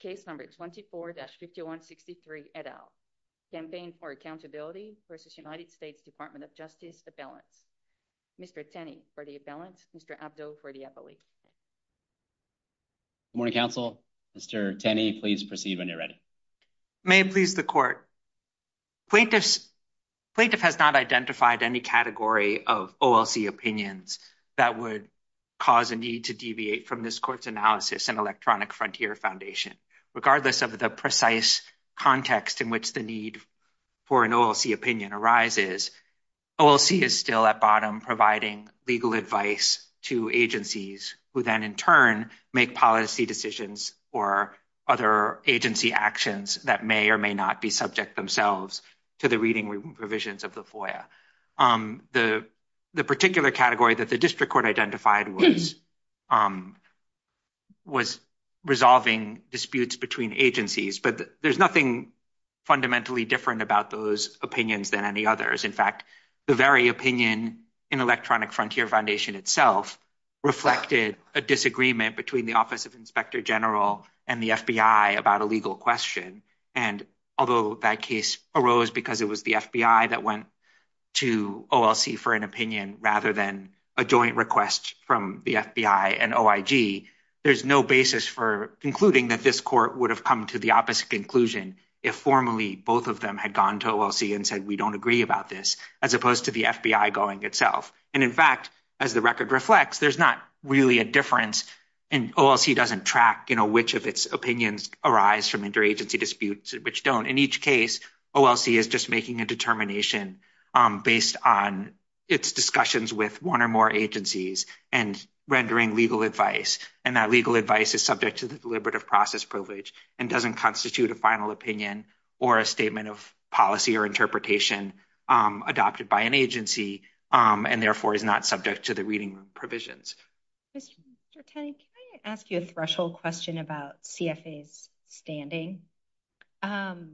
Case No. 24-5163, et al. Campaign for Accountability v. United States Department of Justice, Appellants. Mr. Tenney for the Appellants. Mr. Abdo for the Appellate. Good morning, Counsel. Mr. Tenney, please proceed when you're ready. May it please the Court. Plaintiff has not identified any category of OLC opinions that would cause a need to deviate from this Court's analysis in Electronic Frontier Foundation. Regardless of the precise context in which the need for an OLC opinion arises, OLC is still at bottom providing legal advice to agencies who then in turn make policy decisions or other agency actions that may or may not be subject themselves to the reading provisions of the FOIA. The particular category that the District Court identified was resolving disputes between agencies, but there's nothing fundamentally different about those opinions than any others. In fact, the very opinion in Electronic Frontier Foundation itself reflected a disagreement between the Office of Inspector General and the FBI about a legal question. And although that case arose because it was the FBI that went to OLC for an opinion rather than a joint request from the FBI and OIG, there's no basis for concluding that this Court would have come to the opposite conclusion if formally both of them had gone to OLC and said, we don't agree about this, as opposed to the FBI going itself. And in fact, as the record reflects, there's not really a difference, and OLC doesn't track, you know, which of its opinions arise from interagency disputes and which don't. In each case, OLC is just making a determination based on its discussions with one or more agencies and rendering legal advice. And that legal advice is subject to the deliberative process privilege and doesn't constitute a final opinion or a statement of policy or interpretation adopted by an agency and therefore is not subject to the reading provisions. Mr. Tenney, can I ask you a threshold question about CFA's standing? What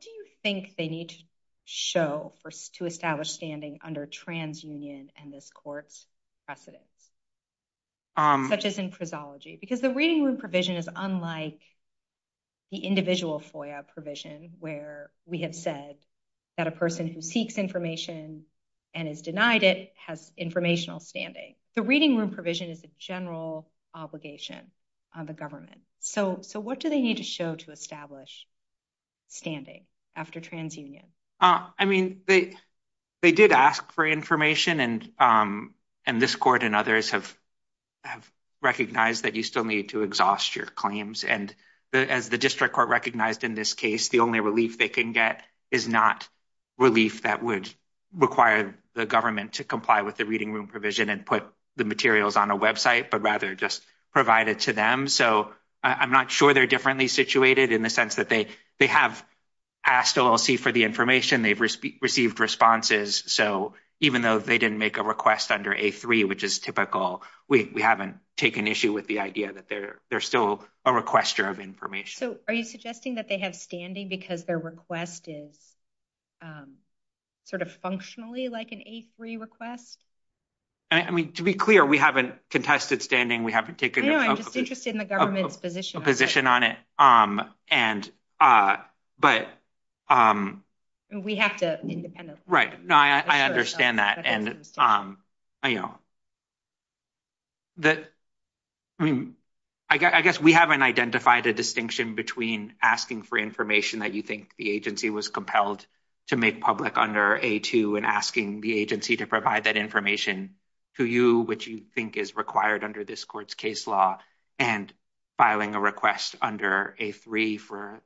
do you think they need to show to establish standing under TransUnion and this Court's precedents, such as in prosology? Because the reading room provision is unlike the individual FOIA provision where we have said that a person who seeks information and is denied it has informational standing. The reading room provision is a general obligation on the government. So what do they need to show to establish standing after TransUnion? I mean, they did ask for information, and this Court and others have recognized that you still need to exhaust your claims. And as the district court recognized in this case, the only relief they can get is not relief that would require the government to comply with the reading room provision and put the materials on a website, but rather just provide it to them. So I'm not sure they're differently situated in the sense that they have asked OLC for the information, they've received responses. So even though they didn't make a request under A3, which is typical, we haven't taken issue with the idea that they're still a requester of information. So are you suggesting that they have standing because their request is sort of functionally like an A3 request? I mean, to be clear, we haven't contested standing, we haven't taken a position on it. We have to independently. Right. No, I understand that. And, you know, that, I mean, I guess we haven't identified a distinction between asking for information that you think the agency was compelled to make public under A2 and asking the agency to provide that information to you, which you think is required under this Court's case law, and filing a request under A3 for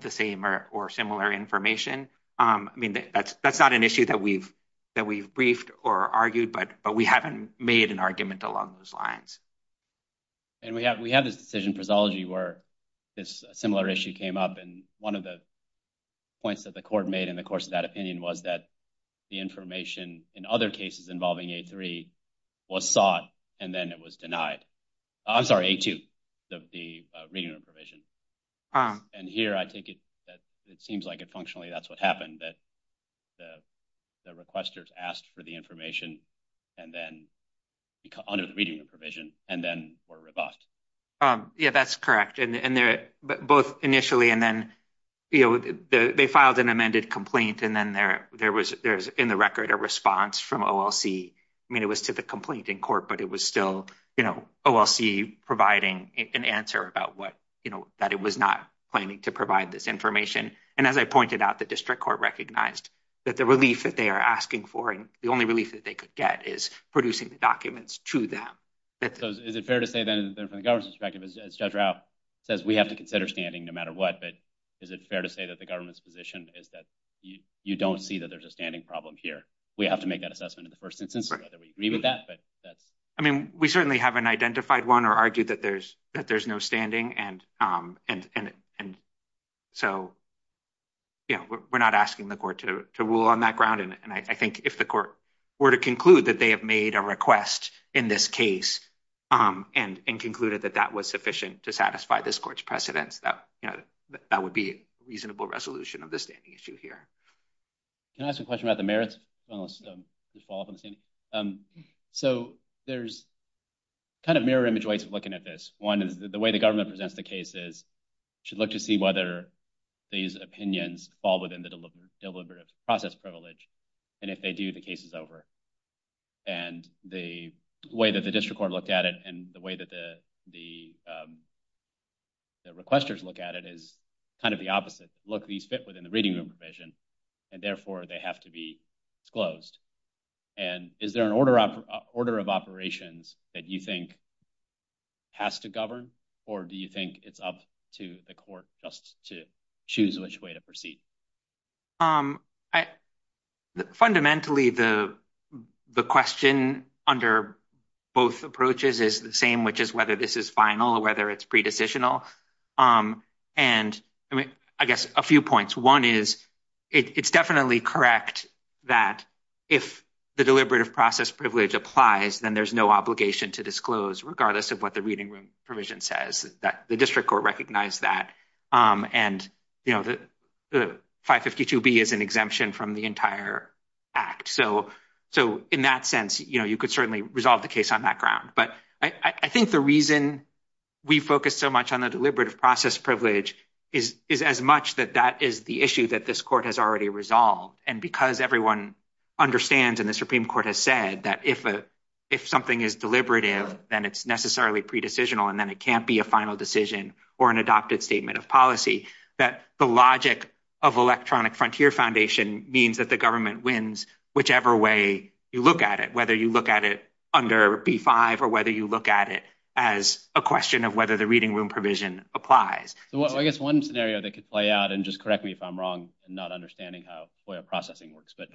the same or similar information. I mean, that's not an issue that we've briefed or argued, but we haven't made an argument along those lines. And we have this decision prosology where this similar issue came up, and one of the points that the Court made in the course of that opinion was that the information in other cases involving A3 was sought and then it was denied. I'm sorry, A2, the reading room provision. And here I take it that it seems like it functionally that's what happened, that the requesters asked for the information and then, under the reading room provision, and then were rebuffed. Yeah, that's correct. Both initially and then, you know, they filed an amended complaint, and then there was, in the record, a response from OLC. I mean, it was to the complaint in court, but it was still, you know, OLC providing an answer about what, you know, that it was not planning to provide this information. And as I pointed out, the District Court recognized that the relief that they are asking for and the only relief that they could get is producing the documents to them. Is it fair to say, then, from the government's perspective, as Judge Rao says, we have to consider standing no matter what. But is it fair to say that the government's position is that you don't see that there's a standing problem here? We have to make that assessment in the first instance, whether we agree with that. I mean, we certainly haven't identified one or argued that there's no standing. And so, you know, we're not asking the court to rule on that ground. And I think if the court were to conclude that they have made a request in this case and concluded that that was sufficient to satisfy this court's precedence, that would be a reasonable resolution of the standing issue here. Can I ask a question about the merits? So there's kind of mirror image ways of looking at this. One is the way the government presents the cases should look to see whether these opinions fall within the deliberative process privilege. And if they do, the case is over. And the way that the District Court looked at it and the way that the requesters look at it is kind of the opposite. Look, these fit within the reading room provision, and therefore they have to be disclosed. And is there an order of operations that you think has to govern? Or do you think it's up to the court just to choose which way to proceed? Fundamentally, the question under both approaches is the same, which is whether this is final or whether it's pre-decisional. And I mean, I guess a few points. One is, it's definitely correct that if the deliberative process privilege applies, then there's no obligation to disclose, regardless of what the reading room provision says. The District Court recognized that. And, you know, the 552B is an exemption from the entire act. So in that sense, you know, you could certainly resolve the case on that ground. But I think the reason we focus so much on the deliberative process privilege is as much that that is the issue that this court has already resolved. And because everyone understands, and the Supreme Court has said, that if something is deliberative, then it's necessarily pre-decisional. And then it can't be a final decision or an adopted statement of policy. That the logic of electronic frontier foundation means that the government wins whichever way you look at it, whether you look at it under B-5 or whether you look at it as a question of whether the reading room provision applies. So I guess one scenario that could play out, and just correct me if I'm wrong and not understanding how FOIA processing works. But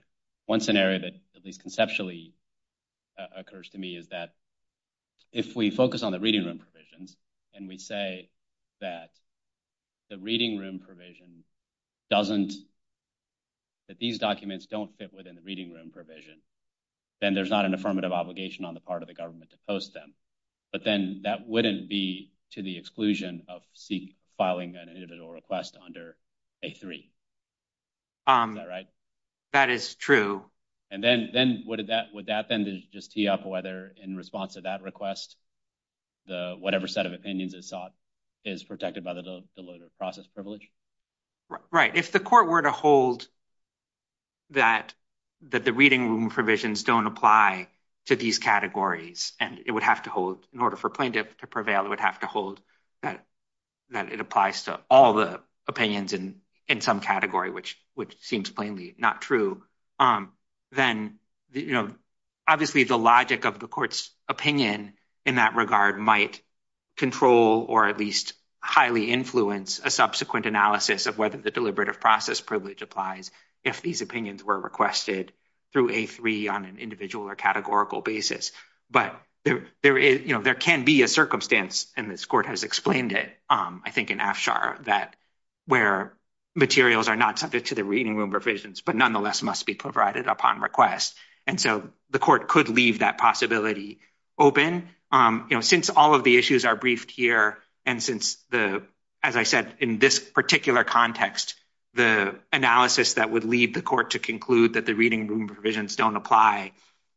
one scenario that at least conceptually occurs to me is that if we focus on the reading room provisions, and we say that the reading room provision doesn't, that these documents don't fit within the reading room provision, then there's not an affirmative obligation on the part of the government to post them. But then that wouldn't be to the exclusion of seek filing an individual request under A-3. Is that right? That is true. And then would that then just tee up whether in response to that request, whatever set of opinions is sought is protected by the deliberative process privilege? Right. If the court were to hold that the reading room provisions don't apply to these categories, and it would have to hold in order for plaintiff to prevail, it would have to hold that it applies to all the opinions in some category, which seems plainly not true. Then obviously the logic of the court's opinion in that regard might control or at least highly influence a subsequent analysis of whether the deliberative process privilege applies if these opinions were requested through A-3 on an individual or categorical basis. But there can be a circumstance, and this court has explained it, I think in AFCHAR, where materials are not subject to the reading room provisions but nonetheless must be provided upon request. And so the court could leave that possibility open. Since all of the issues are briefed here, and since, as I said, in this particular context, the analysis that would lead the court to conclude that the reading room provisions don't apply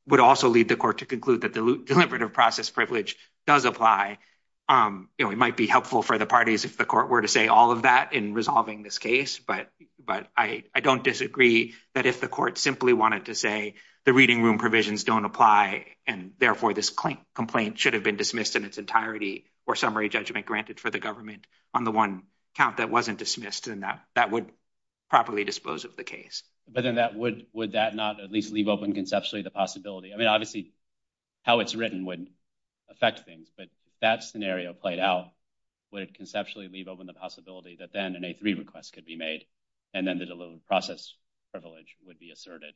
would also lead the court to conclude that the deliberative process privilege does apply. It might be helpful for the parties if the court were to say all of that in resolving this case, but I don't disagree that if the court simply wanted to say the reading room provisions don't apply and therefore this complaint should have been dismissed in its entirety or summary judgment granted for the government on the one count that wasn't dismissed, then that would properly dispose of the case. But then would that not at least leave open conceptually the possibility? I mean, obviously, how it's written wouldn't affect things, but if that scenario played out, would it conceptually leave open the possibility that then an A-3 request could be made and then the deliberative process privilege would be asserted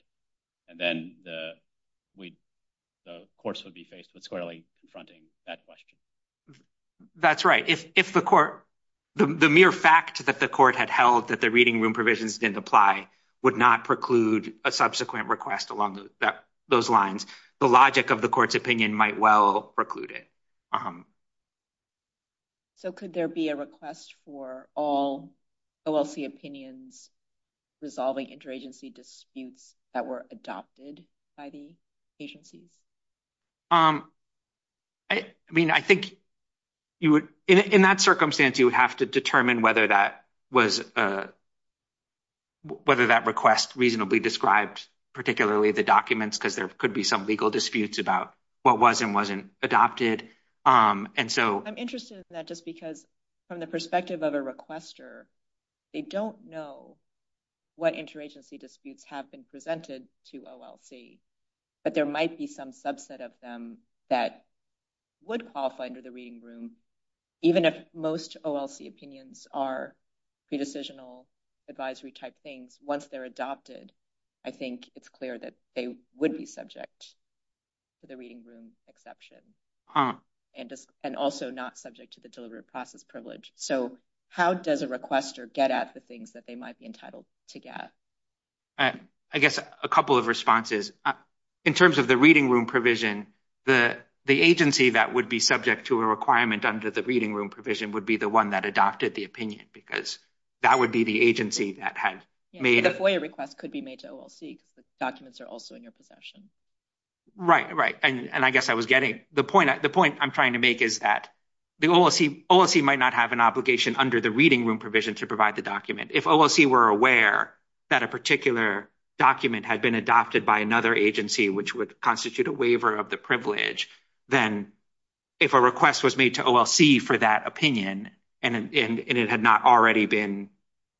and then the courts would be faced with squarely confronting that question? That's right. If the mere fact that the court had held that the reading room provisions didn't apply would not preclude a subsequent request along those lines, the logic of the court's opinion might well preclude it. So could there be a request for all OLC opinions resolving interagency disputes that were adopted by the agencies? I mean, I think in that circumstance, you would have to determine whether that request reasonably described, particularly the documents, because there could be some legal disputes about what was and wasn't adopted. I'm interested in that just because from the perspective of a requester, they don't know what interagency disputes have been presented to OLC, but there might be some subset of them that would qualify under the reading room, even if most OLC opinions are pre-decisional advisory type things. Once they're adopted, I think it's clear that they would be subject to the reading room exception and also not subject to the deliberative process privilege. So how does a requester get at the things that they might be entitled to get? I guess a couple of responses. In terms of the reading room provision, the agency that would be subject to a requirement under the reading room provision would be the one that adopted the opinion because that would be the agency that had made it. The FOIA request could be made to OLC because the documents are also in your possession. Right, right. And I guess I was getting the point. The point I'm trying to make is that the OLC might not have an obligation under the reading room provision to provide the document. If OLC were aware that a particular document had been adopted by another agency, which would constitute a waiver of the privilege, then if a request was made to OLC for that opinion and it had not already been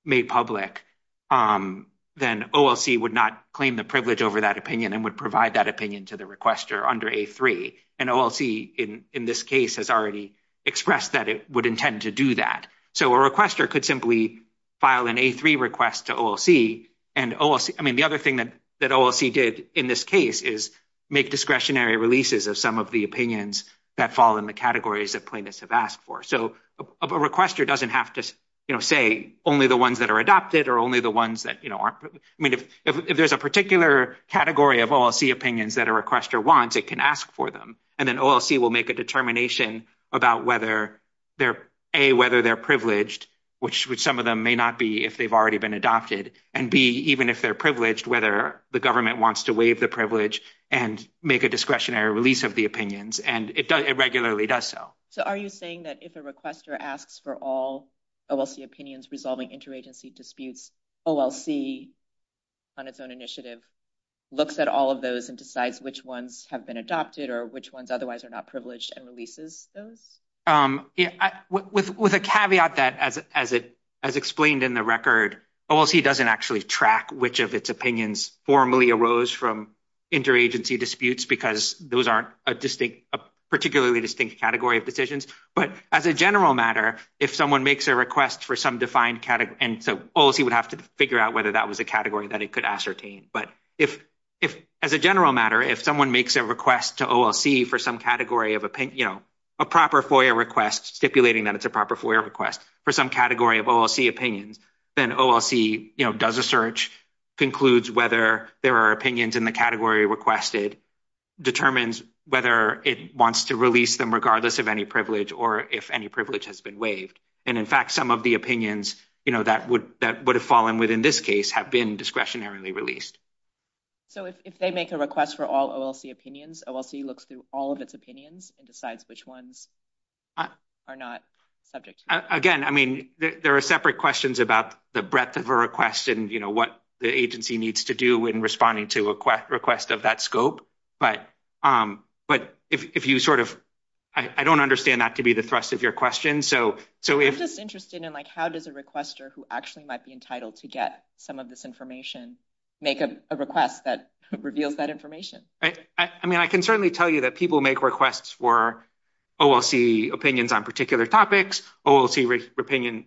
made public, then OLC would not claim the privilege over that opinion and would provide that opinion to the requester under A3. And OLC, in this case, has already expressed that it would intend to do that. So a requester could simply file an A3 request to OLC. And the other thing that OLC did in this case is make discretionary releases of some of the opinions that fall in the categories that plaintiffs have asked for. So a requester doesn't have to say only the ones that are adopted or only the ones that aren't. I mean, if there's a particular category of OLC opinions that a requester wants, it can ask for them. And then OLC will make a determination about whether they're, A, whether they're privileged, which some of them may not be if they've already been adopted, and B, even if they're privileged, whether the government wants to waive the privilege and make a discretionary release of the opinions. And it regularly does so. So are you saying that if a requester asks for all OLC opinions resolving interagency disputes, OLC, on its own initiative, looks at all of those and decides which ones have been adopted or which ones otherwise are not privileged and releases those? With a caveat that, as explained in the record, OLC doesn't actually track which of its opinions formally arose from interagency disputes because those aren't a particularly distinct category of decisions. But as a general matter, if someone makes a request for some defined – and so OLC would have to figure out whether that was a category that it could ascertain. But as a general matter, if someone makes a request to OLC for some category of – a proper FOIA request, stipulating that it's a proper FOIA request for some category of OLC opinions, then OLC does a search, concludes whether there are opinions in the category requested, determines whether it wants to release them regardless of any privilege or if any privilege has been waived. And, in fact, some of the opinions that would have fallen within this case have been discretionarily released. So if they make a request for all OLC opinions, OLC looks through all of its opinions and decides which ones are not subject to that? I mean, there are separate questions about the breadth of a request and, you know, what the agency needs to do in responding to a request of that scope. But if you sort of – I don't understand that to be the thrust of your question. I'm just interested in, like, how does a requester who actually might be entitled to get some of this information make a request that reveals that information? I mean, I can certainly tell you that people make requests for OLC opinions on particular topics, OLC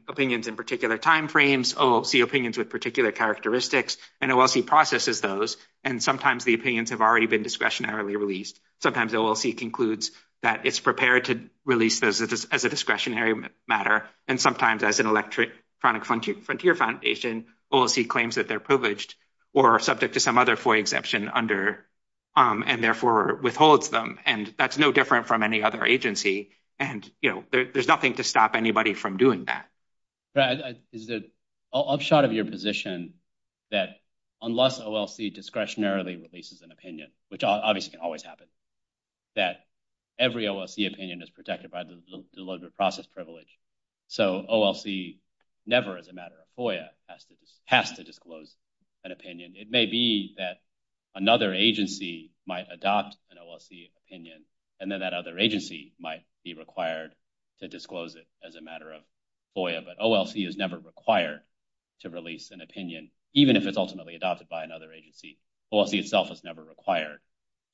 opinions in particular timeframes, OLC opinions with particular characteristics, and OLC processes those. And sometimes the opinions have already been discretionarily released. Sometimes OLC concludes that it's prepared to release those as a discretionary matter. And sometimes as an electronic frontier foundation, OLC claims that they're privileged or subject to some other FOIA exception under – and, therefore, withholds them. And that's no different from any other agency. And, you know, there's nothing to stop anybody from doing that. Brad, is there an upshot of your position that unless OLC discretionarily releases an opinion, which obviously can always happen, that every OLC opinion is protected by the deliberative process privilege? So, OLC never as a matter of FOIA has to disclose an opinion. It may be that another agency might adopt an OLC opinion, and then that other agency might be required to disclose it as a matter of FOIA. But OLC is never required to release an opinion, even if it's ultimately adopted by another agency. OLC itself is never required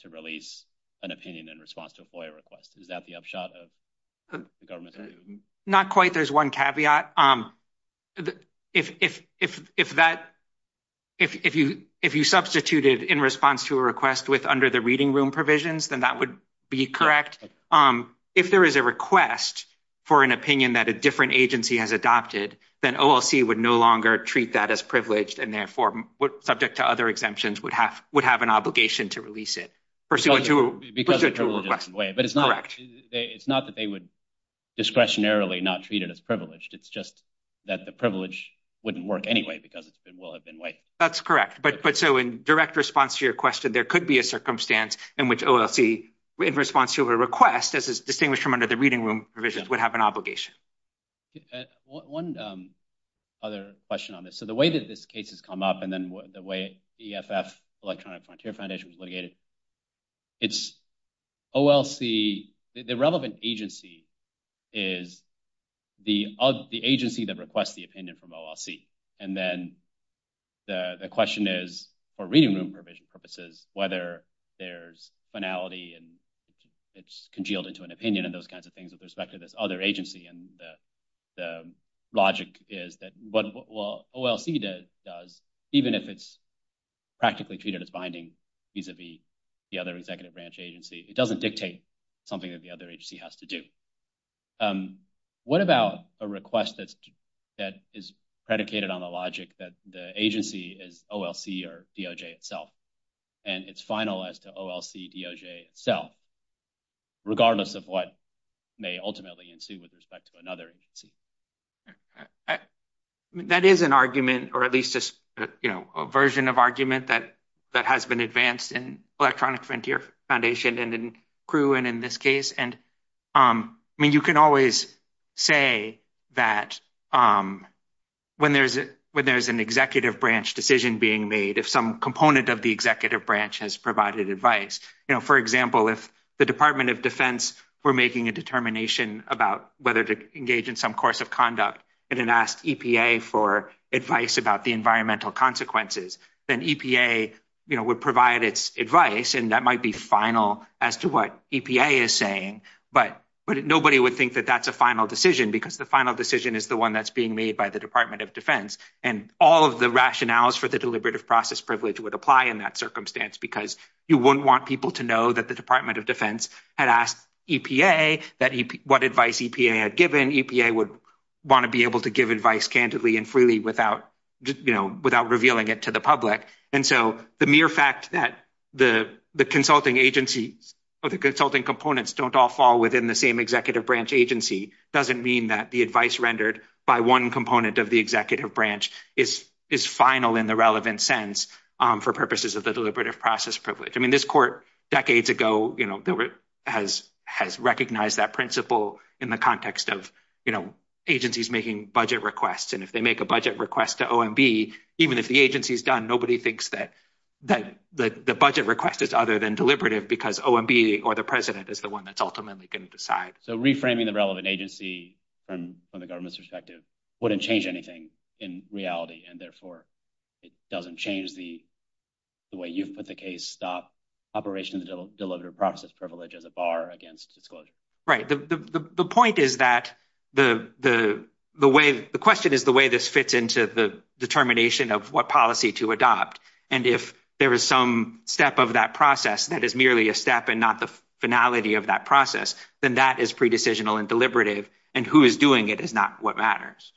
to release an opinion in response to a FOIA request. Is that the upshot of the government's view? Not quite. There's one caveat. If that – if you substituted in response to a request with – under the reading room provisions, then that would be correct. If there is a request for an opinion that a different agency has adopted, then OLC would no longer treat that as privileged and, therefore, subject to other exemptions, would have an obligation to release it pursuant to a request. Correct. But it's not that they would discretionarily not treat it as privileged. It's just that the privilege wouldn't work anyway because it will have been waived. That's correct. But so in direct response to your question, there could be a circumstance in which OLC, in response to a request, as is distinguished from under the reading room provisions, would have an obligation. One other question on this. So the way that this case has come up and then the way EFF, Electronic Frontier Foundation, was litigated, it's OLC – the relevant agency is the agency that requests the opinion from OLC. And then the question is, for reading room provision purposes, whether there's finality and it's congealed into an opinion and those kinds of things with respect to this other agency. And the logic is that what OLC does, even if it's practically treated as binding vis-a-vis the other executive branch agency, it doesn't dictate something that the other agency has to do. What about a request that is predicated on the logic that the agency is OLC or DOJ itself? And it's final as to OLC, DOJ, itself, regardless of what may ultimately ensue with respect to another agency. That is an argument, or at least a version of argument, that has been advanced in Electronic Frontier Foundation and in CRU and in this case. And I mean, you can always say that when there's an executive branch decision being made, if some component of the executive branch has provided advice. For example, if the Department of Defense were making a determination about whether to engage in some course of conduct and then asked EPA for advice about the environmental consequences, then EPA would provide its advice. And that might be final as to what EPA is saying, but nobody would think that that's a final decision because the final decision is the one that's being made by the Department of Defense. And all of the rationales for the deliberative process privilege would apply in that circumstance because you wouldn't want people to know that the Department of Defense had asked EPA what advice EPA had given. EPA would want to be able to give advice candidly and freely without revealing it to the public. And so the mere fact that the consulting agency or the consulting components don't all fall within the same executive branch agency doesn't mean that the advice rendered by one component of the executive branch is final in the relevant sense for purposes of the deliberative process privilege. I mean, this court decades ago has recognized that principle in the context of agencies making budget requests. And if they make a budget request to OMB, even if the agency is done, nobody thinks that the budget request is other than deliberative because OMB or the president is the one that's ultimately going to decide. So reframing the relevant agency from the government's perspective wouldn't change anything in reality, and therefore it doesn't change the way you've put the case stop operation of the deliberative process privilege as a bar against disclosure. Right. The point is that the question is the way this fits into the determination of what policy to adopt. And if there is some step of that process that is merely a step and not the finality of that process, then that is pre-decisional and deliberative. And who is doing it is not what matters.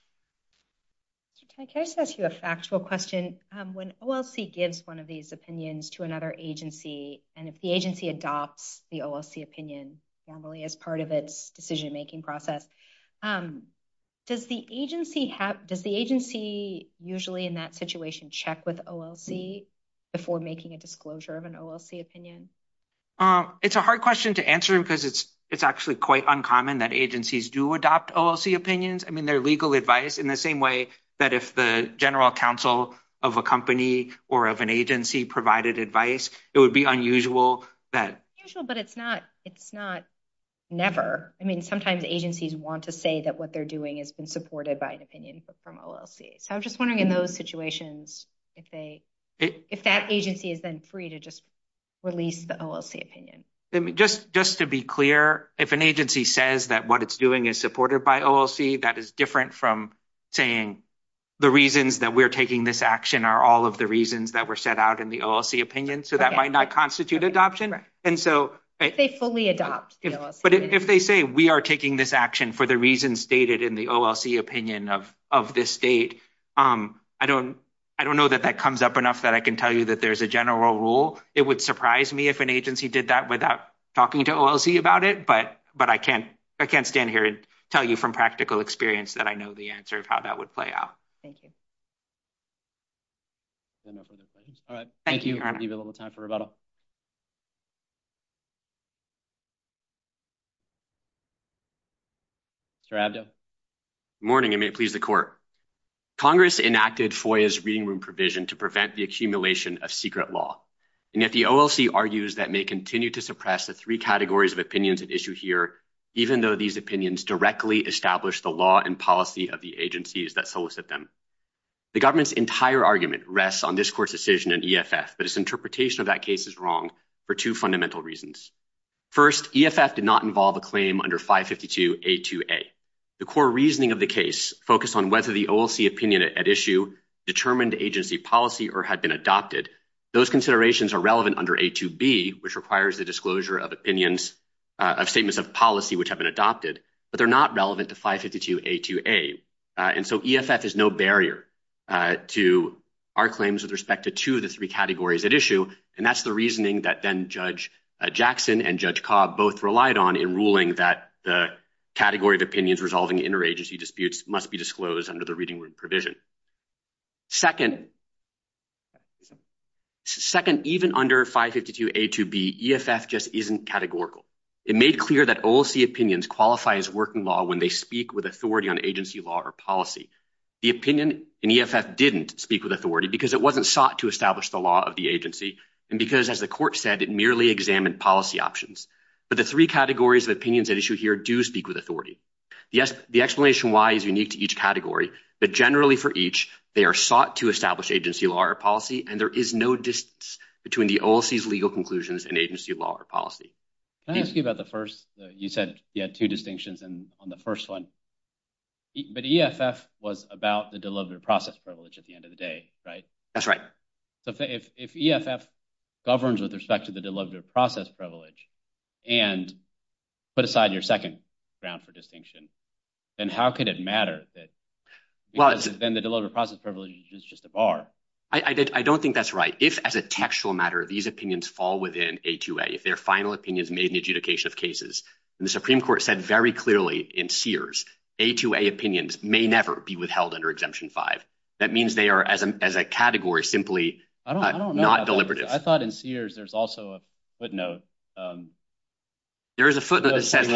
Can I just ask you a factual question? When OLC gives one of these opinions to another agency, and if the agency adopts the OLC opinion normally as part of its decision making process, does the agency usually in that situation check with OLC before making a disclosure of an OLC opinion? It's a hard question to answer because it's actually quite uncommon that agencies do adopt OLC opinions. I mean, they're legal advice in the same way that if the general counsel of a company or of an agency provided advice, it would be unusual. But it's not never. I mean, sometimes agencies want to say that what they're doing has been supported by an opinion from OLC. So I'm just wondering in those situations if that agency is then free to just release the OLC opinion. Just to be clear, if an agency says that what it's doing is supported by OLC, that is different from saying the reasons that we're taking this action are all of the reasons that were set out in the OLC opinion. So that might not constitute adoption. If they fully adopt the OLC opinion. I don't know that that comes up enough that I can tell you that there's a general rule. It would surprise me if an agency did that without talking to OLC about it. But I can't stand here and tell you from practical experience that I know the answer of how that would play out. Thank you. All right. Thank you. We have a little time for rebuttal. Mr. Abdo. Good morning. It may please the court. Congress enacted FOIA's reading room provision to prevent the accumulation of secret law. And yet the OLC argues that may continue to suppress the three categories of opinions at issue here, even though these opinions directly establish the law and policy of the agencies that solicit them. The government's entire argument rests on this court's decision in EFF, but its interpretation of that case is wrong for two fundamental reasons. First, EFF did not involve a claim under 552A2A. The core reasoning of the case focused on whether the OLC opinion at issue determined agency policy or had been adopted. Those considerations are relevant under A2B, which requires the disclosure of opinions of statements of policy which have been adopted, but they're not relevant to 552A2A. And so EFF is no barrier to our claims with respect to two of the three categories at issue. And that's the reasoning that then Judge Jackson and Judge Cobb both relied on in ruling that the category of opinions resolving interagency disputes must be disclosed under the reading room provision. Second, even under 552A2B, EFF just isn't categorical. It made clear that OLC opinions qualify as working law when they speak with authority on agency law or policy. The opinion in EFF didn't speak with authority because it wasn't sought to establish the law of the agency and because, as the court said, it merely examined policy options. But the three categories of opinions at issue here do speak with authority. The explanation why is unique to each category, but generally for each, they are sought to establish agency law or policy, and there is no distance between the OLC's legal conclusions and agency law or policy. Can I ask you about the first? You said you had two distinctions on the first one. But EFF was about the deliberative process privilege at the end of the day, right? That's right. So if EFF governs with respect to the deliberative process privilege and put aside your second ground for distinction, then how could it matter that then the deliberative process privilege is just a bar? I don't think that's right. If, as a textual matter, these opinions fall within A2A, if their final opinion is made in adjudication of cases, and the Supreme Court said very clearly in Sears, A2A opinions may never be withheld under Exemption 5. That means they are, as a category, simply not deliberative. I thought in Sears there's also a footnote. There is a footnote that says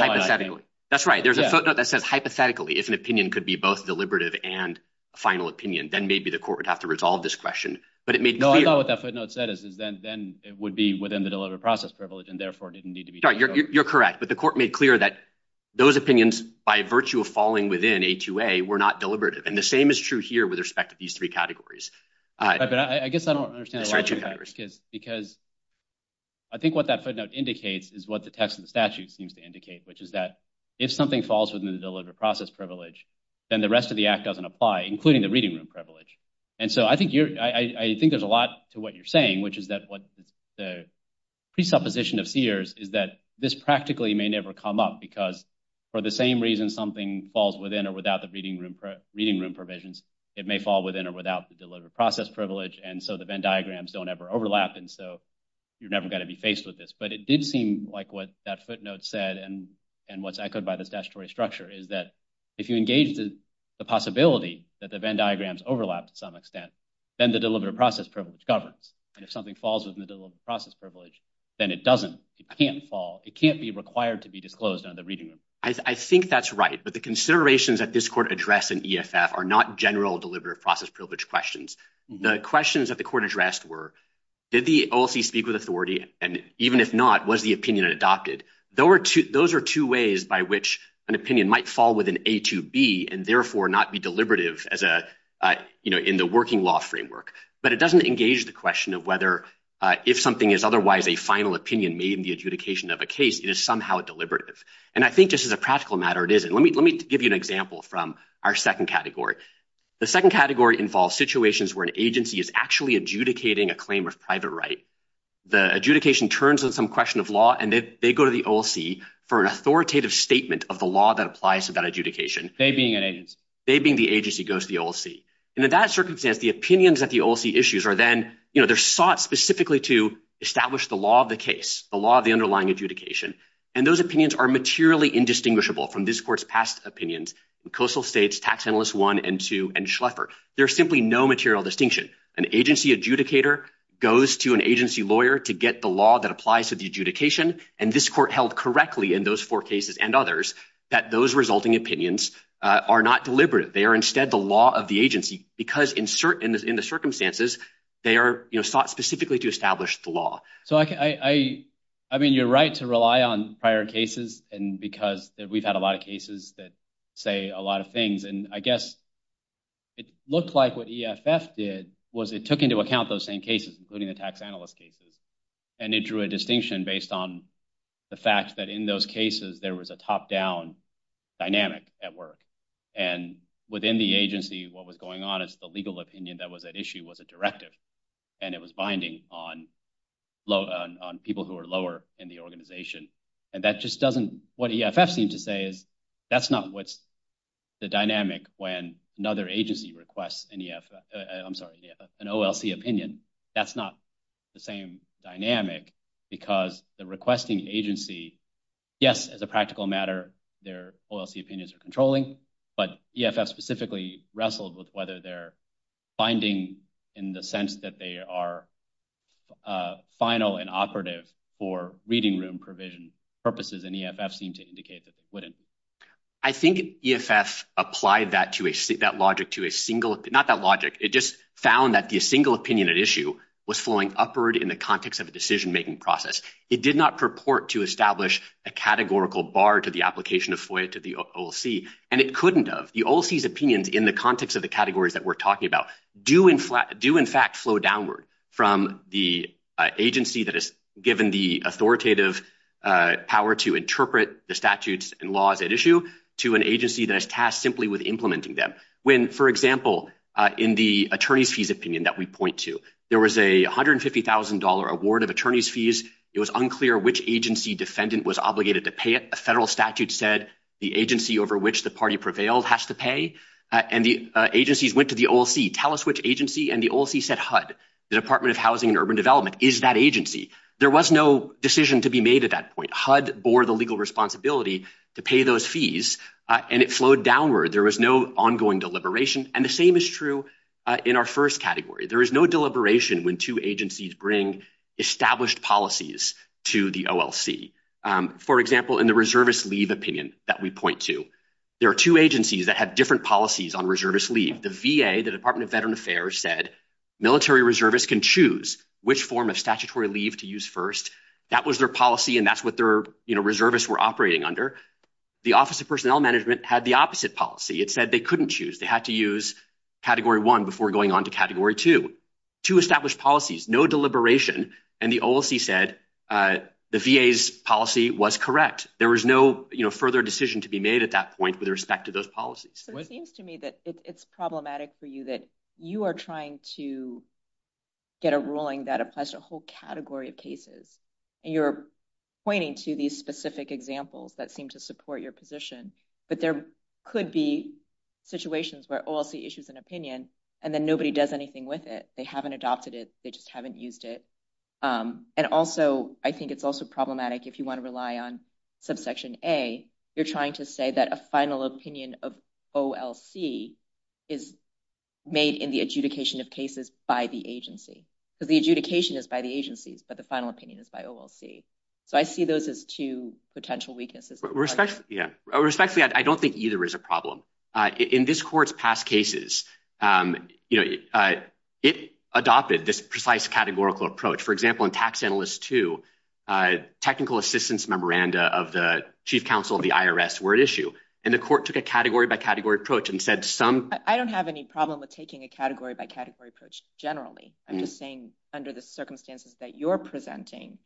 hypothetically. If an opinion could be both deliberative and a final opinion, then maybe the court would have to resolve this question. But it made clear— No, I thought what that footnote said is then it would be within the deliberative process privilege and therefore didn't need to be deliberative. You're correct. But the court made clear that those opinions, by virtue of falling within A2A, were not deliberative. And the same is true here with respect to these three categories. But I guess I don't understand the logic of that because I think what that footnote indicates is what the text of the statute seems to indicate, which is that if something falls within the deliberative process privilege, then the rest of the act doesn't apply, including the reading room privilege. And so I think there's a lot to what you're saying, which is that what the presupposition of Sears is that this practically may never come up because for the same reason something falls within or without the reading room provisions, it may fall within or without the deliberative process privilege, and so the Venn diagrams don't ever overlap, and so you're never going to be faced with this. But it did seem like what that footnote said and what's echoed by this statutory structure is that if you engage the possibility that the Venn diagrams overlap to some extent, then the deliberative process privilege governs. And if something falls within the deliberative process privilege, then it doesn't. It can't fall. It can't be required to be disclosed under the reading room. I think that's right, but the considerations that this court addressed in EFF are not general deliberative process privilege questions. The questions that the court addressed were, did the OLC speak with authority, and even if not, was the opinion adopted? Those are two ways by which an opinion might fall within A to B and therefore not be deliberative in the working law framework, but it doesn't engage the question of whether if something is otherwise a final opinion made in the adjudication of a case, it is somehow deliberative. And I think just as a practical matter, it isn't. Let me give you an example from our second category. The second category involves situations where an agency is actually adjudicating a claim of private right. The adjudication turns on some question of law, and they go to the OLC for an authoritative statement of the law that applies to that adjudication. They being an agency. They being the agency goes to the OLC. And in that circumstance, the opinions at the OLC issues are then sought specifically to establish the law of the case, the law of the underlying adjudication. And those opinions are materially indistinguishable from this court's past opinions. Coastal States, Tax Analyst 1 and 2, and Schleffer. There's simply no material distinction. An agency adjudicator goes to an agency lawyer to get the law that applies to the adjudication, and this court held correctly in those four cases and others that those resulting opinions are not deliberate. They are instead the law of the agency because in the circumstances, they are sought specifically to establish the law. So I mean, you're right to rely on prior cases, and because we've had a lot of cases that say a lot of things. And I guess it looked like what EFF did was it took into account those same cases, including the tax analyst cases. And it drew a distinction based on the fact that in those cases, there was a top-down dynamic at work. And within the agency, what was going on is the legal opinion that was at issue was a directive, and it was binding on people who are lower in the organization. And that just doesn't – what EFF seemed to say is that's not what's the dynamic when another agency requests an EFF – I'm sorry, an OLC opinion. And that's not the same dynamic because the requesting agency, yes, as a practical matter, their OLC opinions are controlling, but EFF specifically wrestled with whether they're binding in the sense that they are final and operative for reading room provision purposes, and EFF seemed to indicate that they wouldn't. I think EFF applied that to a – that logic to a single – not that logic. It just found that the single opinion at issue was flowing upward in the context of a decision-making process. It did not purport to establish a categorical bar to the application of FOIA to the OLC, and it couldn't have. The OLC's opinions in the context of the categories that we're talking about do in fact flow downward from the agency that is given the authoritative power to interpret the statutes and laws at issue to an agency that is tasked simply with implementing them. When, for example, in the attorneys' fees opinion that we point to, there was a $150,000 award of attorneys' fees. It was unclear which agency defendant was obligated to pay it. A federal statute said the agency over which the party prevailed has to pay, and the agencies went to the OLC, tell us which agency, and the OLC said HUD, the Department of Housing and Urban Development is that agency. There was no decision to be made at that point. HUD bore the legal responsibility to pay those fees, and it flowed downward. There was no ongoing deliberation, and the same is true in our first category. There is no deliberation when two agencies bring established policies to the OLC. For example, in the reservist leave opinion that we point to, there are two agencies that have different policies on reservist leave. The VA, the Department of Veteran Affairs, said military reservists can choose which form of statutory leave to use first. That was their policy, and that's what their reservists were operating under. The Office of Personnel Management had the opposite policy. It said they couldn't choose. They had to use Category 1 before going on to Category 2. Two established policies, no deliberation, and the OLC said the VA's policy was correct. There was no further decision to be made at that point with respect to those policies. So it seems to me that it's problematic for you that you are trying to get a ruling that applies to a whole category of cases, and you're pointing to these specific examples that seem to support your position, but there could be situations where OLC issues an opinion, and then nobody does anything with it. They haven't adopted it. They just haven't used it, and also I think it's also problematic if you want to rely on subsection A. You're trying to say that a final opinion of OLC is made in the adjudication of cases by the agency, because the adjudication is by the agencies, but the final opinion is by OLC. So I see those as two potential weaknesses. Respectfully, I don't think either is a problem. In this Court's past cases, it adopted this precise categorical approach. For example, in Tax Analyst 2, technical assistance memoranda of the chief counsel of the IRS were at issue, and the Court took a category-by-category approach and said some- I don't have any problem with taking a category-by-category approach generally. I'm just saying under the circumstances that you're presenting,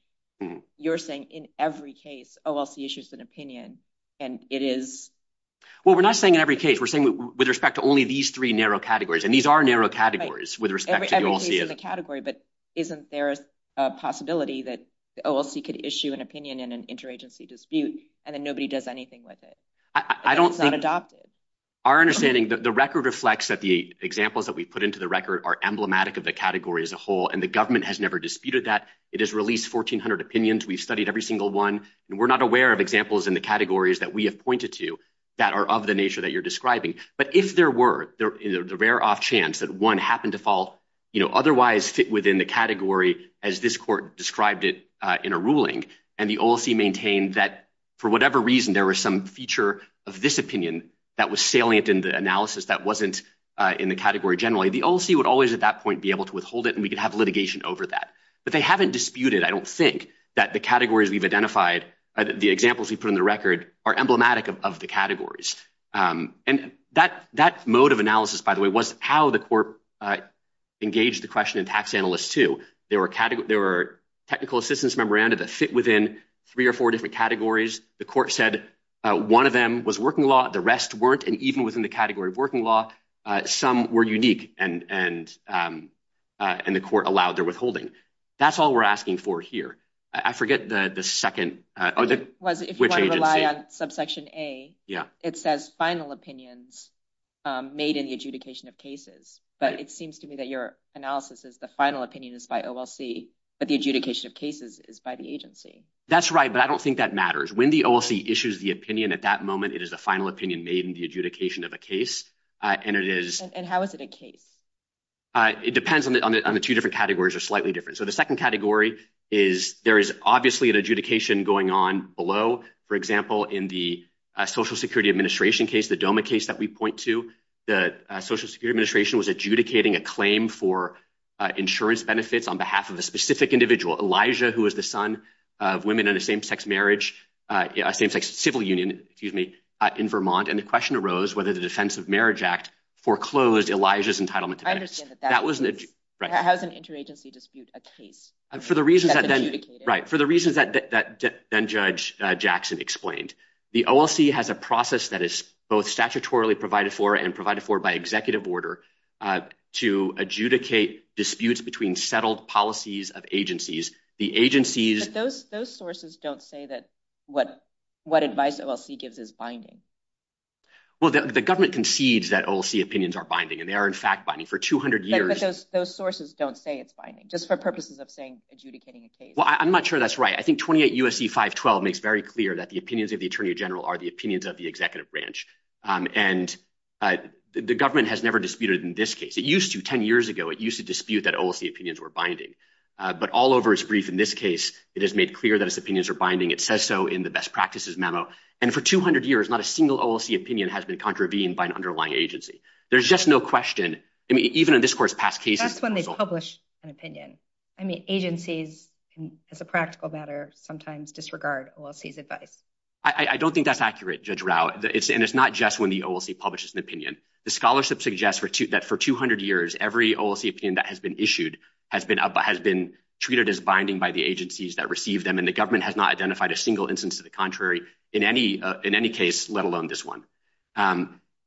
you're saying in every case, OLC issues an opinion, and it is- Well, we're not saying in every case. We're saying with respect to only these three narrow categories, and these are narrow categories with respect to the OLC. But isn't there a possibility that the OLC could issue an opinion in an interagency dispute, and then nobody does anything with it? I don't think- Our understanding, the record reflects that the examples that we put into the record are emblematic of the category as a whole, and the government has never disputed that. It has released 1,400 opinions. We've studied every single one, and we're not aware of examples in the categories that we have pointed to that are of the nature that you're describing. But if there were the rare-off chance that one happened to fall otherwise within the category as this court described it in a ruling, and the OLC maintained that for whatever reason there was some feature of this opinion that was salient in the analysis that wasn't in the category generally, the OLC would always at that point be able to withhold it, and we could have litigation over that. But they haven't disputed, I don't think, that the categories we've identified, the examples we put in the record, are emblematic of the categories. And that mode of analysis, by the way, was how the court engaged the question in Tax Analyst 2. There were technical assistance memoranda that fit within three or four different categories. The court said one of them was working law. The rest weren't, and even within the category of working law, some were unique, and the court allowed their withholding. That's all we're asking for here. I forget the second- If you want to rely on subsection A, it says final opinions made in the adjudication of cases. But it seems to me that your analysis is the final opinion is by OLC, but the adjudication of cases is by the agency. That's right, but I don't think that matters. When the OLC issues the opinion at that moment, it is the final opinion made in the adjudication of a case, and it is- And how is it a case? It depends on the two different categories are slightly different. So the second category is there is obviously an adjudication going on below. For example, in the Social Security Administration case, the DOMA case that we point to, the Social Security Administration was adjudicating a claim for insurance benefits on behalf of a specific individual, Elijah, who is the son of women in a same-sex marriage, a same-sex civil union, excuse me, in Vermont, and the question arose whether the Defense of Marriage Act foreclosed Elijah's entitlement to benefits. How is an interagency dispute a case that's adjudicated? For the reasons that Judge Jackson explained, the OLC has a process that is both statutorily provided for and provided for by executive order to adjudicate disputes between settled policies of agencies. But those sources don't say that what advice OLC gives is binding. Well, the government concedes that OLC opinions are binding, and they are, in fact, binding. For 200 years- But those sources don't say it's binding, just for purposes of saying adjudicating a case. Well, I'm not sure that's right. I think 28 U.S.C. 512 makes very clear that the opinions of the attorney general are the opinions of the executive branch. And the government has never disputed in this case. It used to 10 years ago. It used to dispute that OLC opinions were binding. But all over its brief in this case, it has made clear that its opinions are binding. It says so in the best practices memo. And for 200 years, not a single OLC opinion has been contravened by an underlying agency. There's just no question. I mean, even in this court's past cases- That's when they publish an opinion. I mean, agencies, as a practical matter, sometimes disregard OLC's advice. I don't think that's accurate, Judge Rao. And it's not just when the OLC publishes an opinion. The scholarship suggests that for 200 years, every OLC opinion that has been issued has been treated as binding by the agencies that receive them. And the government has not identified a single instance of the contrary in any case, let alone this one.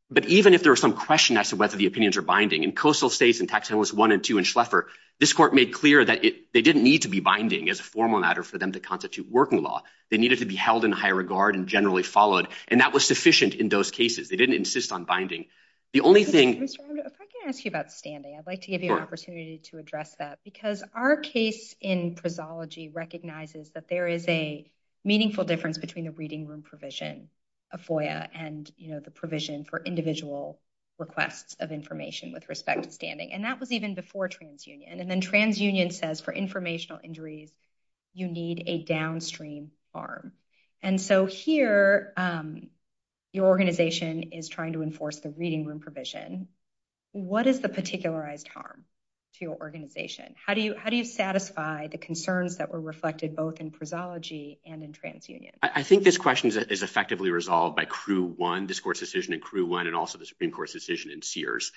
But even if there was some question as to whether the opinions are binding, in Coastal States and Tax Analysts 1 and 2 and Schleffer, this court made clear that they didn't need to be binding as a formal matter for them to constitute working law. They needed to be held in high regard and generally followed. And that was sufficient in those cases. They didn't insist on binding. The only thing- Judge Rao, if I can ask you about standing, I'd like to give you an opportunity to address that. Because our case in prosology recognizes that there is a meaningful difference between a reading room provision, a FOIA, and the provision for individual requests of information with respect to standing. And that was even before TransUnion. And then TransUnion says for informational injuries, you need a downstream arm. And so here, your organization is trying to enforce the reading room provision. What is the particularized harm to your organization? How do you satisfy the concerns that were reflected both in prosology and in TransUnion? I think this question is effectively resolved by CRU 1, this court's decision in CRU 1, and also the Supreme Court's decision in Sears.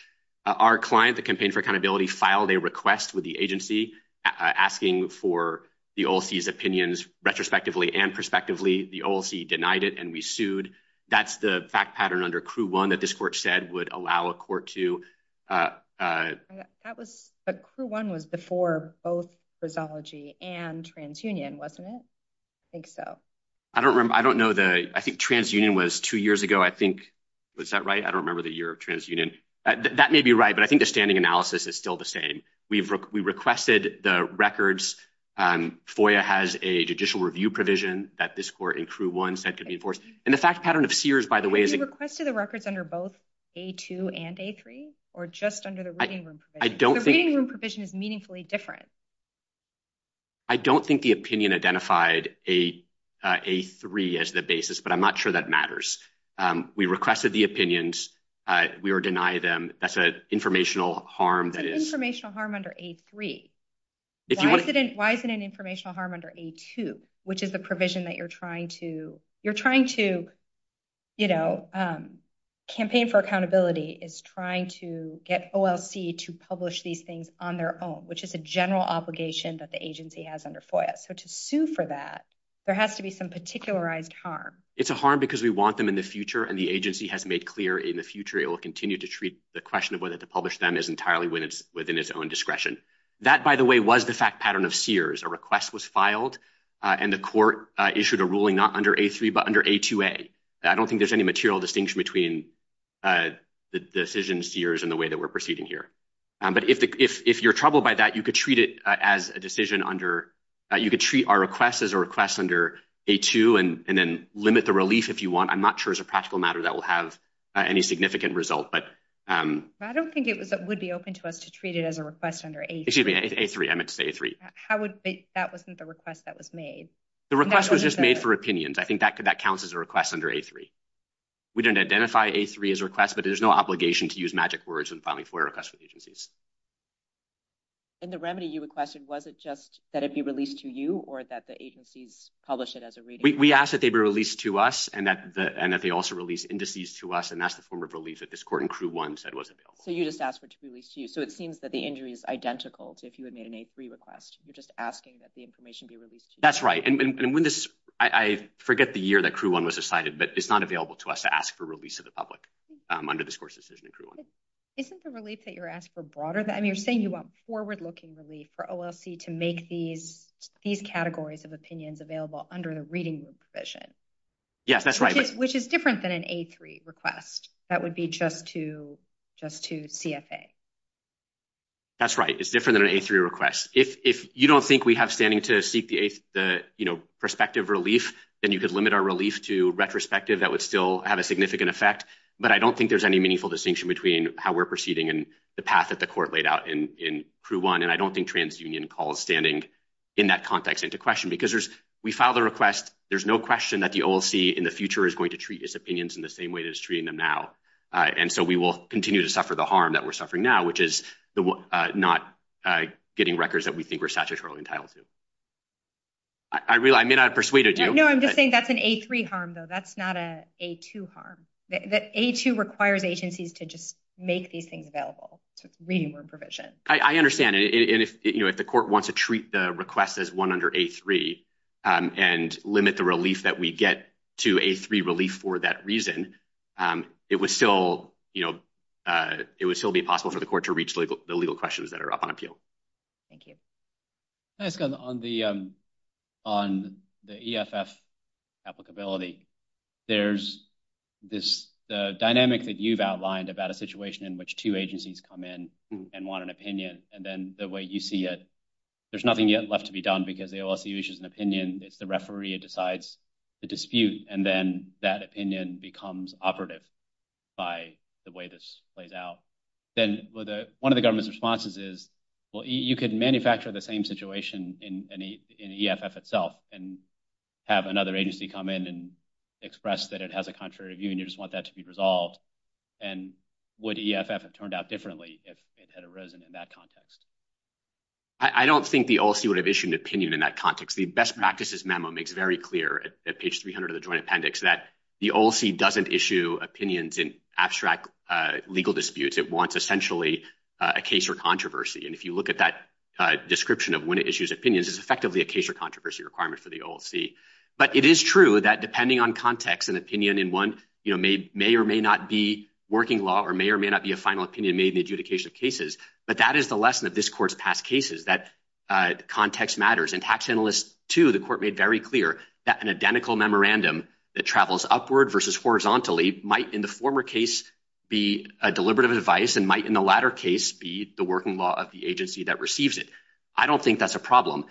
Our client, the Campaign for Accountability, filed a request with the agency asking for the OLC's opinions retrospectively and prospectively. The OLC denied it, and we sued. That's the fact pattern under CRU 1 that this court said would allow a court to- But CRU 1 was before both prosology and TransUnion, wasn't it? I think so. I don't know. I think TransUnion was two years ago. Was that right? I don't remember the year of TransUnion. That may be right, but I think the standing analysis is still the same. We requested the records. FOIA has a judicial review provision that this court in CRU 1 said could be enforced. And the fact pattern of Sears, by the way- You requested the records under both A2 and A3, or just under the reading room provision? I don't think- The reading room provision is meaningfully different. I don't think the opinion identified A3 as the basis, but I'm not sure that matters. We requested the opinions. We are denying them. That's an informational harm that is- That's an informational harm under A3. Why is it an informational harm under A2, which is the provision that you're trying to- Campaign for Accountability is trying to get OLC to publish these things on their own, which is a general obligation that the agency has under FOIA. So to sue for that, there has to be some particularized harm. It's a harm because we want them in the future, and the agency has made clear in the future it will continue to treat the question of whether to publish them as entirely within its own discretion. That, by the way, was the fact pattern of Sears. A request was filed, and the court issued a ruling not under A3 but under A2A. I don't think there's any material distinction between the decision Sears and the way that we're proceeding here. But if you're troubled by that, you could treat it as a decision under- You could treat our request as a request under A2 and then limit the relief if you want. I'm not sure as a practical matter that will have any significant result, but- I don't think it would be open to us to treat it as a request under A3. Excuse me, A3. I meant to say A3. That wasn't the request that was made. The request was just made for opinions. I think that counts as a request under A3. We didn't identify A3 as a request, but there's no obligation to use magic words when filing FOIA requests with agencies. And the remedy you requested, was it just that it be released to you or that the agencies publish it as a reading? We asked that they be released to us and that they also release indices to us, and that's the form of relief that this court in Crew 1 said was available. So you just asked for it to be released to you. So it seems that the injury is identical to if you had made an A3 request. You're just asking that the information be released to you. That's right. And when this- I forget the year that Crew 1 was decided, but it's not available to us to ask for release to the public under this court's decision in Crew 1. Isn't the relief that you're asking for broader than- I mean, you're saying you want forward-looking relief for OLC to make these categories of opinions available under the reading room provision. Yes, that's right. Which is different than an A3 request. That would be just to CFA. That's right. It's different than an A3 request. If you don't think we have standing to seek the prospective relief, then you could limit our relief to retrospective. That would still have a significant effect. But I don't think there's any meaningful distinction between how we're proceeding and the path that the court laid out in Crew 1, and I don't think TransUnion calls standing in that context into question because we filed the request. There's no question that the OLC in the future is going to treat its opinions in the same way that it's treating them now, and so we will continue to suffer the harm that we're suffering now, which is not getting records that we think we're statutorily entitled to. I may not have persuaded you. No, I'm just saying that's an A3 harm, though. That's not an A2 harm. The A2 requires agencies to just make these things available, so it's reading room provision. I understand. If the court wants to treat the request as one under A3 and limit the relief that we get to A3 relief for that reason, it would still be possible for the court to reach the legal questions that are up on appeal. Thank you. Can I ask, on the EFF applicability, there's this dynamic that you've outlined about a situation in which two agencies come in and want an opinion, and then the way you see it, there's nothing yet left to be done because the OLC issues an opinion, it's the referee, it decides the dispute, and then that opinion becomes operative by the way this plays out. Then one of the government's responses is, well, you can manufacture the same situation in EFF itself and have another agency come in and express that it has a contrary view and you just want that to be resolved, and would EFF have turned out differently if it had arisen in that context? I don't think the OLC would have issued an opinion in that context. The best practices memo makes very clear at page 300 of the joint appendix that the OLC doesn't issue opinions in abstract legal disputes. It wants essentially a case or controversy, and if you look at that description of when it issues opinions, it's effectively a case or controversy requirement for the OLC. But it is true that depending on context, an opinion in one may or may not be working law or may or may not be a final opinion made in the adjudication of cases, but that is the lesson of this court's past cases, that context matters. In Tax Analyst 2, the court made very clear that an identical memorandum that travels upward versus horizontally might in the former case be a deliberative advice and might in the latter case be the working law of the agency that receives it. I don't think that's a problem.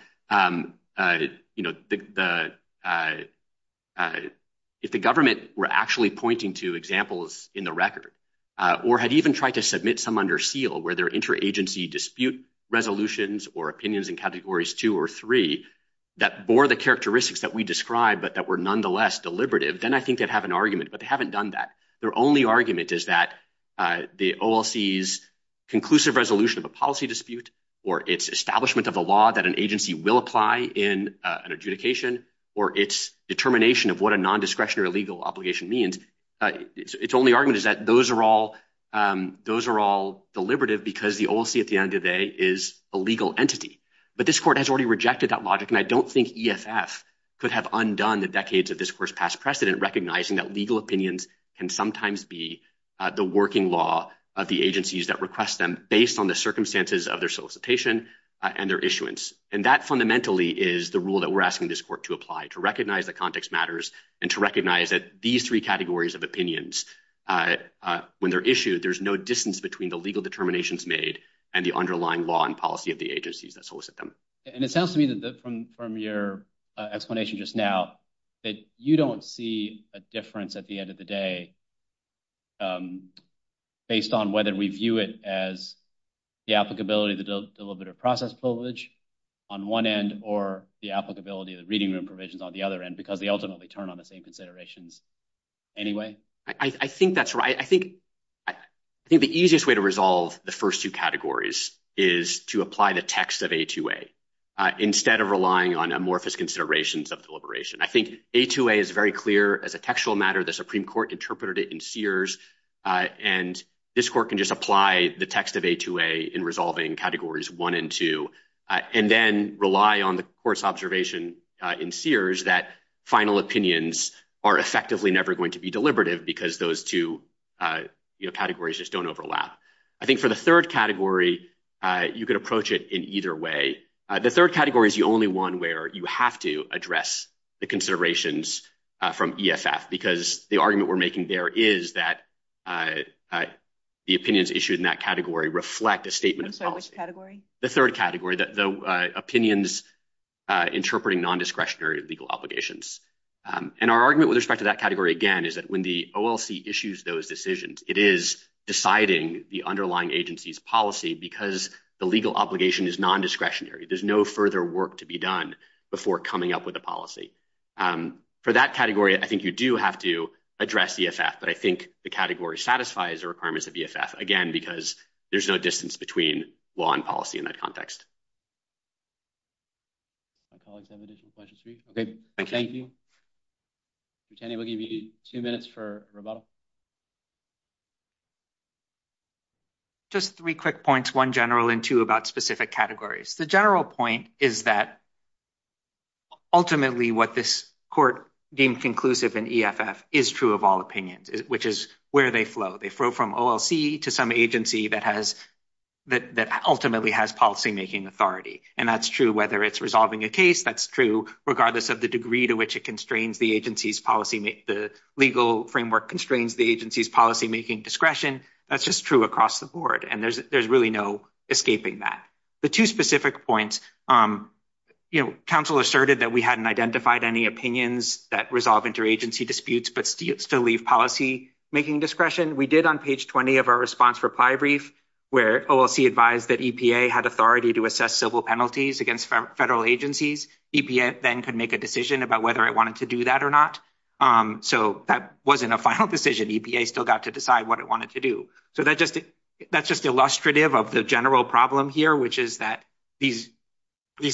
If the government were actually pointing to examples in the record or had even tried to submit some under seal where there are interagency dispute resolutions or opinions in Categories 2 or 3 that bore the characteristics that we described but that were nonetheless deliberative, then I think they'd have an argument, but they haven't done that. Their only argument is that the OLC's conclusive resolution of a policy dispute or its establishment of a law that an agency will apply in an adjudication or its determination of what a non-discretion or illegal obligation means, its only argument is that those are all deliberative because the OLC at the end of the day is a legal entity. But this court has already rejected that logic, and I don't think EFF could have undone the decades of this court's past precedent recognizing that legal opinions can sometimes be the working law of the agencies that request them based on the circumstances of their solicitation and their issuance. And that fundamentally is the rule that we're asking this court to apply, to recognize that context matters and to recognize that these three categories of opinions, when they're issued, there's no distance between the legal determinations made and the underlying law and policy of the agencies that solicit them. And it sounds to me that from your explanation just now, that you don't see a difference at the end of the day based on whether we view it as the applicability of the deliberative process privilege on one end or the applicability of the reading room provisions on the other end because they ultimately turn on the same considerations anyway. I think that's right. I think the easiest way to resolve the first two categories is to apply the text of A2A instead of relying on amorphous considerations of deliberation. I think A2A is very clear as a textual matter. The Supreme Court interpreted it in Sears, and this court can just apply the text of A2A in resolving categories one and two, and then rely on the court's observation in Sears that final opinions are effectively never going to be deliberative because those two categories just don't overlap. I think for the third category, you could approach it in either way. The third category is the only one where you have to address the considerations from EFF because the argument we're making there is that the opinions issued in that category reflect a statement of policy. The third category, the opinions interpreting non-discretionary legal obligations. And our argument with respect to that category, again, is that when the OLC issues those decisions, it is deciding the underlying agency's policy because the legal obligation is non-discretionary. There's no further work to be done before coming up with a policy. For that category, I think you do have to address EFF, but I think the category satisfies the requirements of EFF, again, because there's no distance between law and policy in that context. Thank you. Lieutenant, we'll give you two minutes for rebuttal. Just three quick points, one general and two about specific categories. The general point is that ultimately what this court deemed conclusive in EFF is true of all opinions, which is where they flow. They flow from OLC to some agency that ultimately has policymaking authority. And that's true whether it's resolving a case. That's true regardless of the degree to which it constrains the agency's policy—the legal framework constrains the agency's policymaking discretion. That's just true across the board, and there's really no escaping that. The two specific points, you know, counsel asserted that we hadn't identified any opinions that resolve interagency disputes but still leave policymaking discretion. We did on page 20 of our response reply brief where OLC advised that EPA had authority to assess civil penalties against federal agencies. EPA then could make a decision about whether it wanted to do that or not. So that wasn't a final decision. EPA still got to decide what it wanted to do. So that's just illustrative of the general problem here, which is that these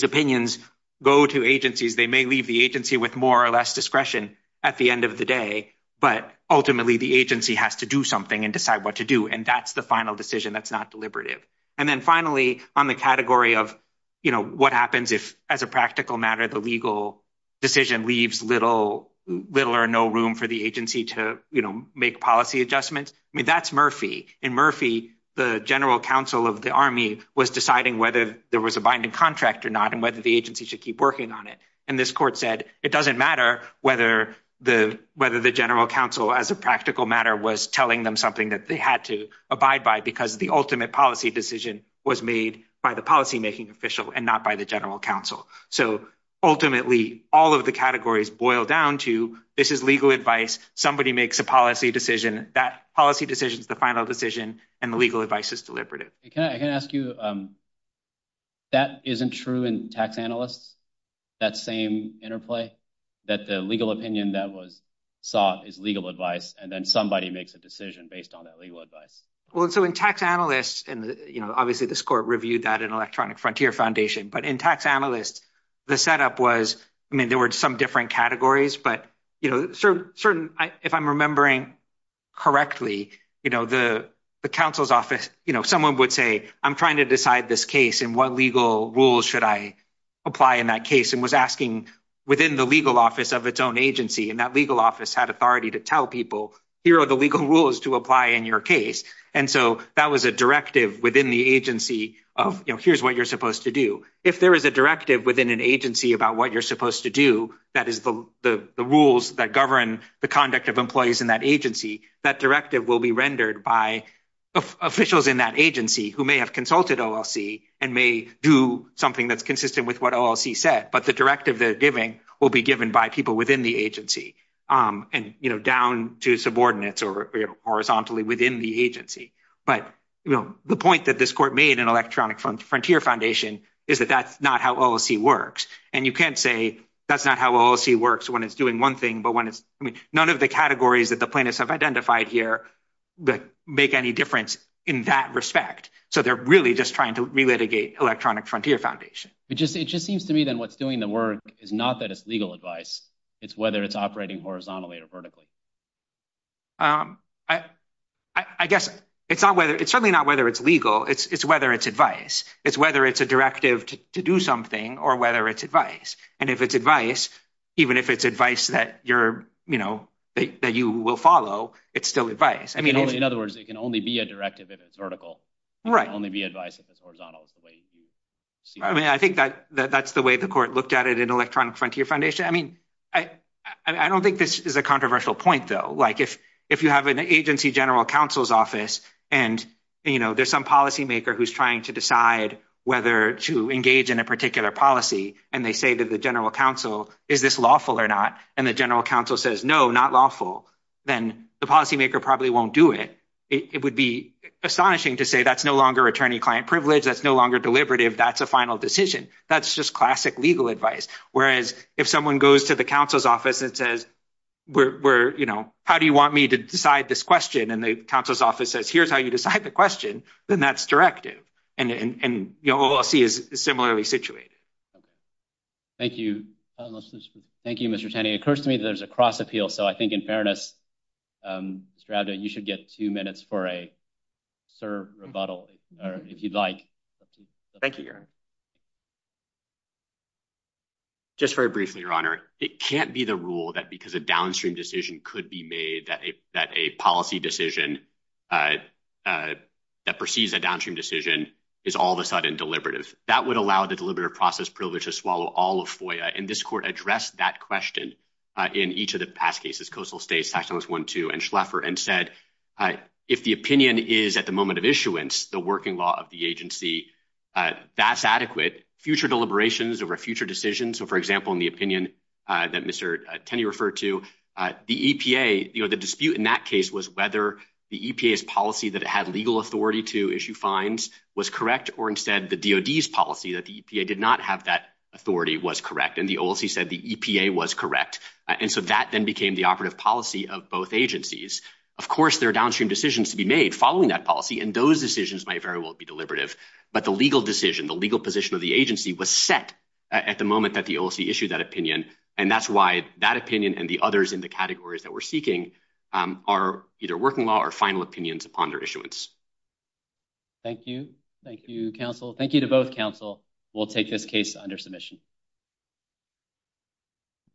opinions go to agencies. They may leave the agency with more or less discretion at the end of the day, but ultimately the agency has to do something and decide what to do, and that's the final decision that's not deliberative. And then finally, on the category of, you know, what happens if as a practical matter the legal decision leaves little or no room for the agency to, you know, make policy adjustments? I mean, that's Murphy. In Murphy, the general counsel of the Army was deciding whether there was a binding contract or not and whether the agency should keep working on it. And this court said it doesn't matter whether the general counsel as a practical matter was telling them something that they had to abide by because the ultimate policy decision was made by the policymaking official and not by the general counsel. So ultimately all of the categories boil down to this is legal advice. Somebody makes a policy decision. That policy decision is the final decision and the legal advice is deliberative. I can ask you, that isn't true in tax analysts, that same interplay that the legal opinion that was sought is legal advice, and then somebody makes a decision based on that legal advice. Well, so in tax analysts, and, you know, obviously this court reviewed that in Electronic Frontier Foundation, but in tax analysts the setup was, I mean, there were some different categories, but, you know, if I'm remembering correctly, you know, the counsel's office, you know, someone would say, I'm trying to decide this case and what legal rules should I apply in that case and was asking within the legal office of its own agency. And that legal office had authority to tell people here are the legal rules to apply in your case. And so that was a directive within the agency of, you know, here's what you're supposed to do. If there is a directive within an agency about what you're supposed to do, that is the rules that govern the conduct of employees in that agency, that directive will be rendered by officials in that agency who may have consulted OLC and may do something that's consistent with what OLC said, but the directive they're giving will be given by people within the agency and, you know, down to subordinates or horizontally within the agency. But, you know, the point that this court made in Electronic Frontier Foundation is that that's not how OLC works. And you can't say that's not how OLC works when it's doing one thing, but when it's, I mean, none of the categories that the plaintiffs have identified here that make any difference in that respect. So they're really just trying to relitigate Electronic Frontier Foundation. It just, it just seems to me then what's doing the work is not that it's legal advice. It's whether it's operating horizontally or vertically. I guess it's not whether it's certainly not whether it's legal, it's whether it's advice, it's whether it's a directive to do something or whether it's advice. And if it's advice, even if it's advice that you're, you know, that you will follow, it's still advice. I mean, in other words, it can only be a directive if it's vertical. Right. It can only be advice if it's horizontal. I mean, I think that that's the way the court looked at it in Electronic Frontier Foundation. I mean, I don't think this is a controversial point though. Like if, if you have an agency general counsel's office and, you know, there's some policymaker who's trying to decide whether to engage in a particular policy. And they say to the general counsel, is this lawful or not? And the general counsel says, no, not lawful. Then the policymaker probably won't do it. It would be astonishing to say that's no longer attorney client privilege. That's no longer deliberative. That's a final decision. That's just classic legal advice. Whereas if someone goes to the council's office and says, we're, you know, how do you want me to decide this question? And then the council's office says, here's how you decide the question. Then that's directive. And, and, and, you know, all I'll see is similarly situated. Okay. Thank you. Thank you, Mr. Tenney. It occurs to me that there's a cross appeal. So I think in fairness, strata, you should get two minutes for a. Sir rebuttal, if you'd like. Thank you. Just very briefly, your honor, it can't be the rule that because of downstream decision could be made that a, that a policy decision. uh, that perceives a downstream decision is all of a sudden deliberative. That would allow the deliberative process privilege to swallow all of FOIA. And this court addressed that question, uh, in each of the past cases, coastal states, section was one, and Schleffer and said, uh, if the opinion is at the moment of issuance, the working law of the agency. Uh, that's adequate future deliberations over future decisions. So, for example, in the opinion, uh, that Mr. Tenney referred to, the EPA, you know, the dispute in that case was whether the EPA's policy that it had legal authority to issue fines was correct, or instead the DOD's policy that the EPA did not have that authority was correct. And the old, he said the EPA was correct. And so that then became the operative policy of both agencies. Of course, there are downstream decisions to be made following that policy. And those decisions might very well be deliberative, but the legal decision, the legal position of the agency was set. At the moment that the OLC issued that opinion. And that's why that opinion and the others in the categories that we're seeking, um, are either working law or final opinions upon their issuance. Thank you. Thank you. Counsel. Thank you to both counsel. We'll take this case under submission.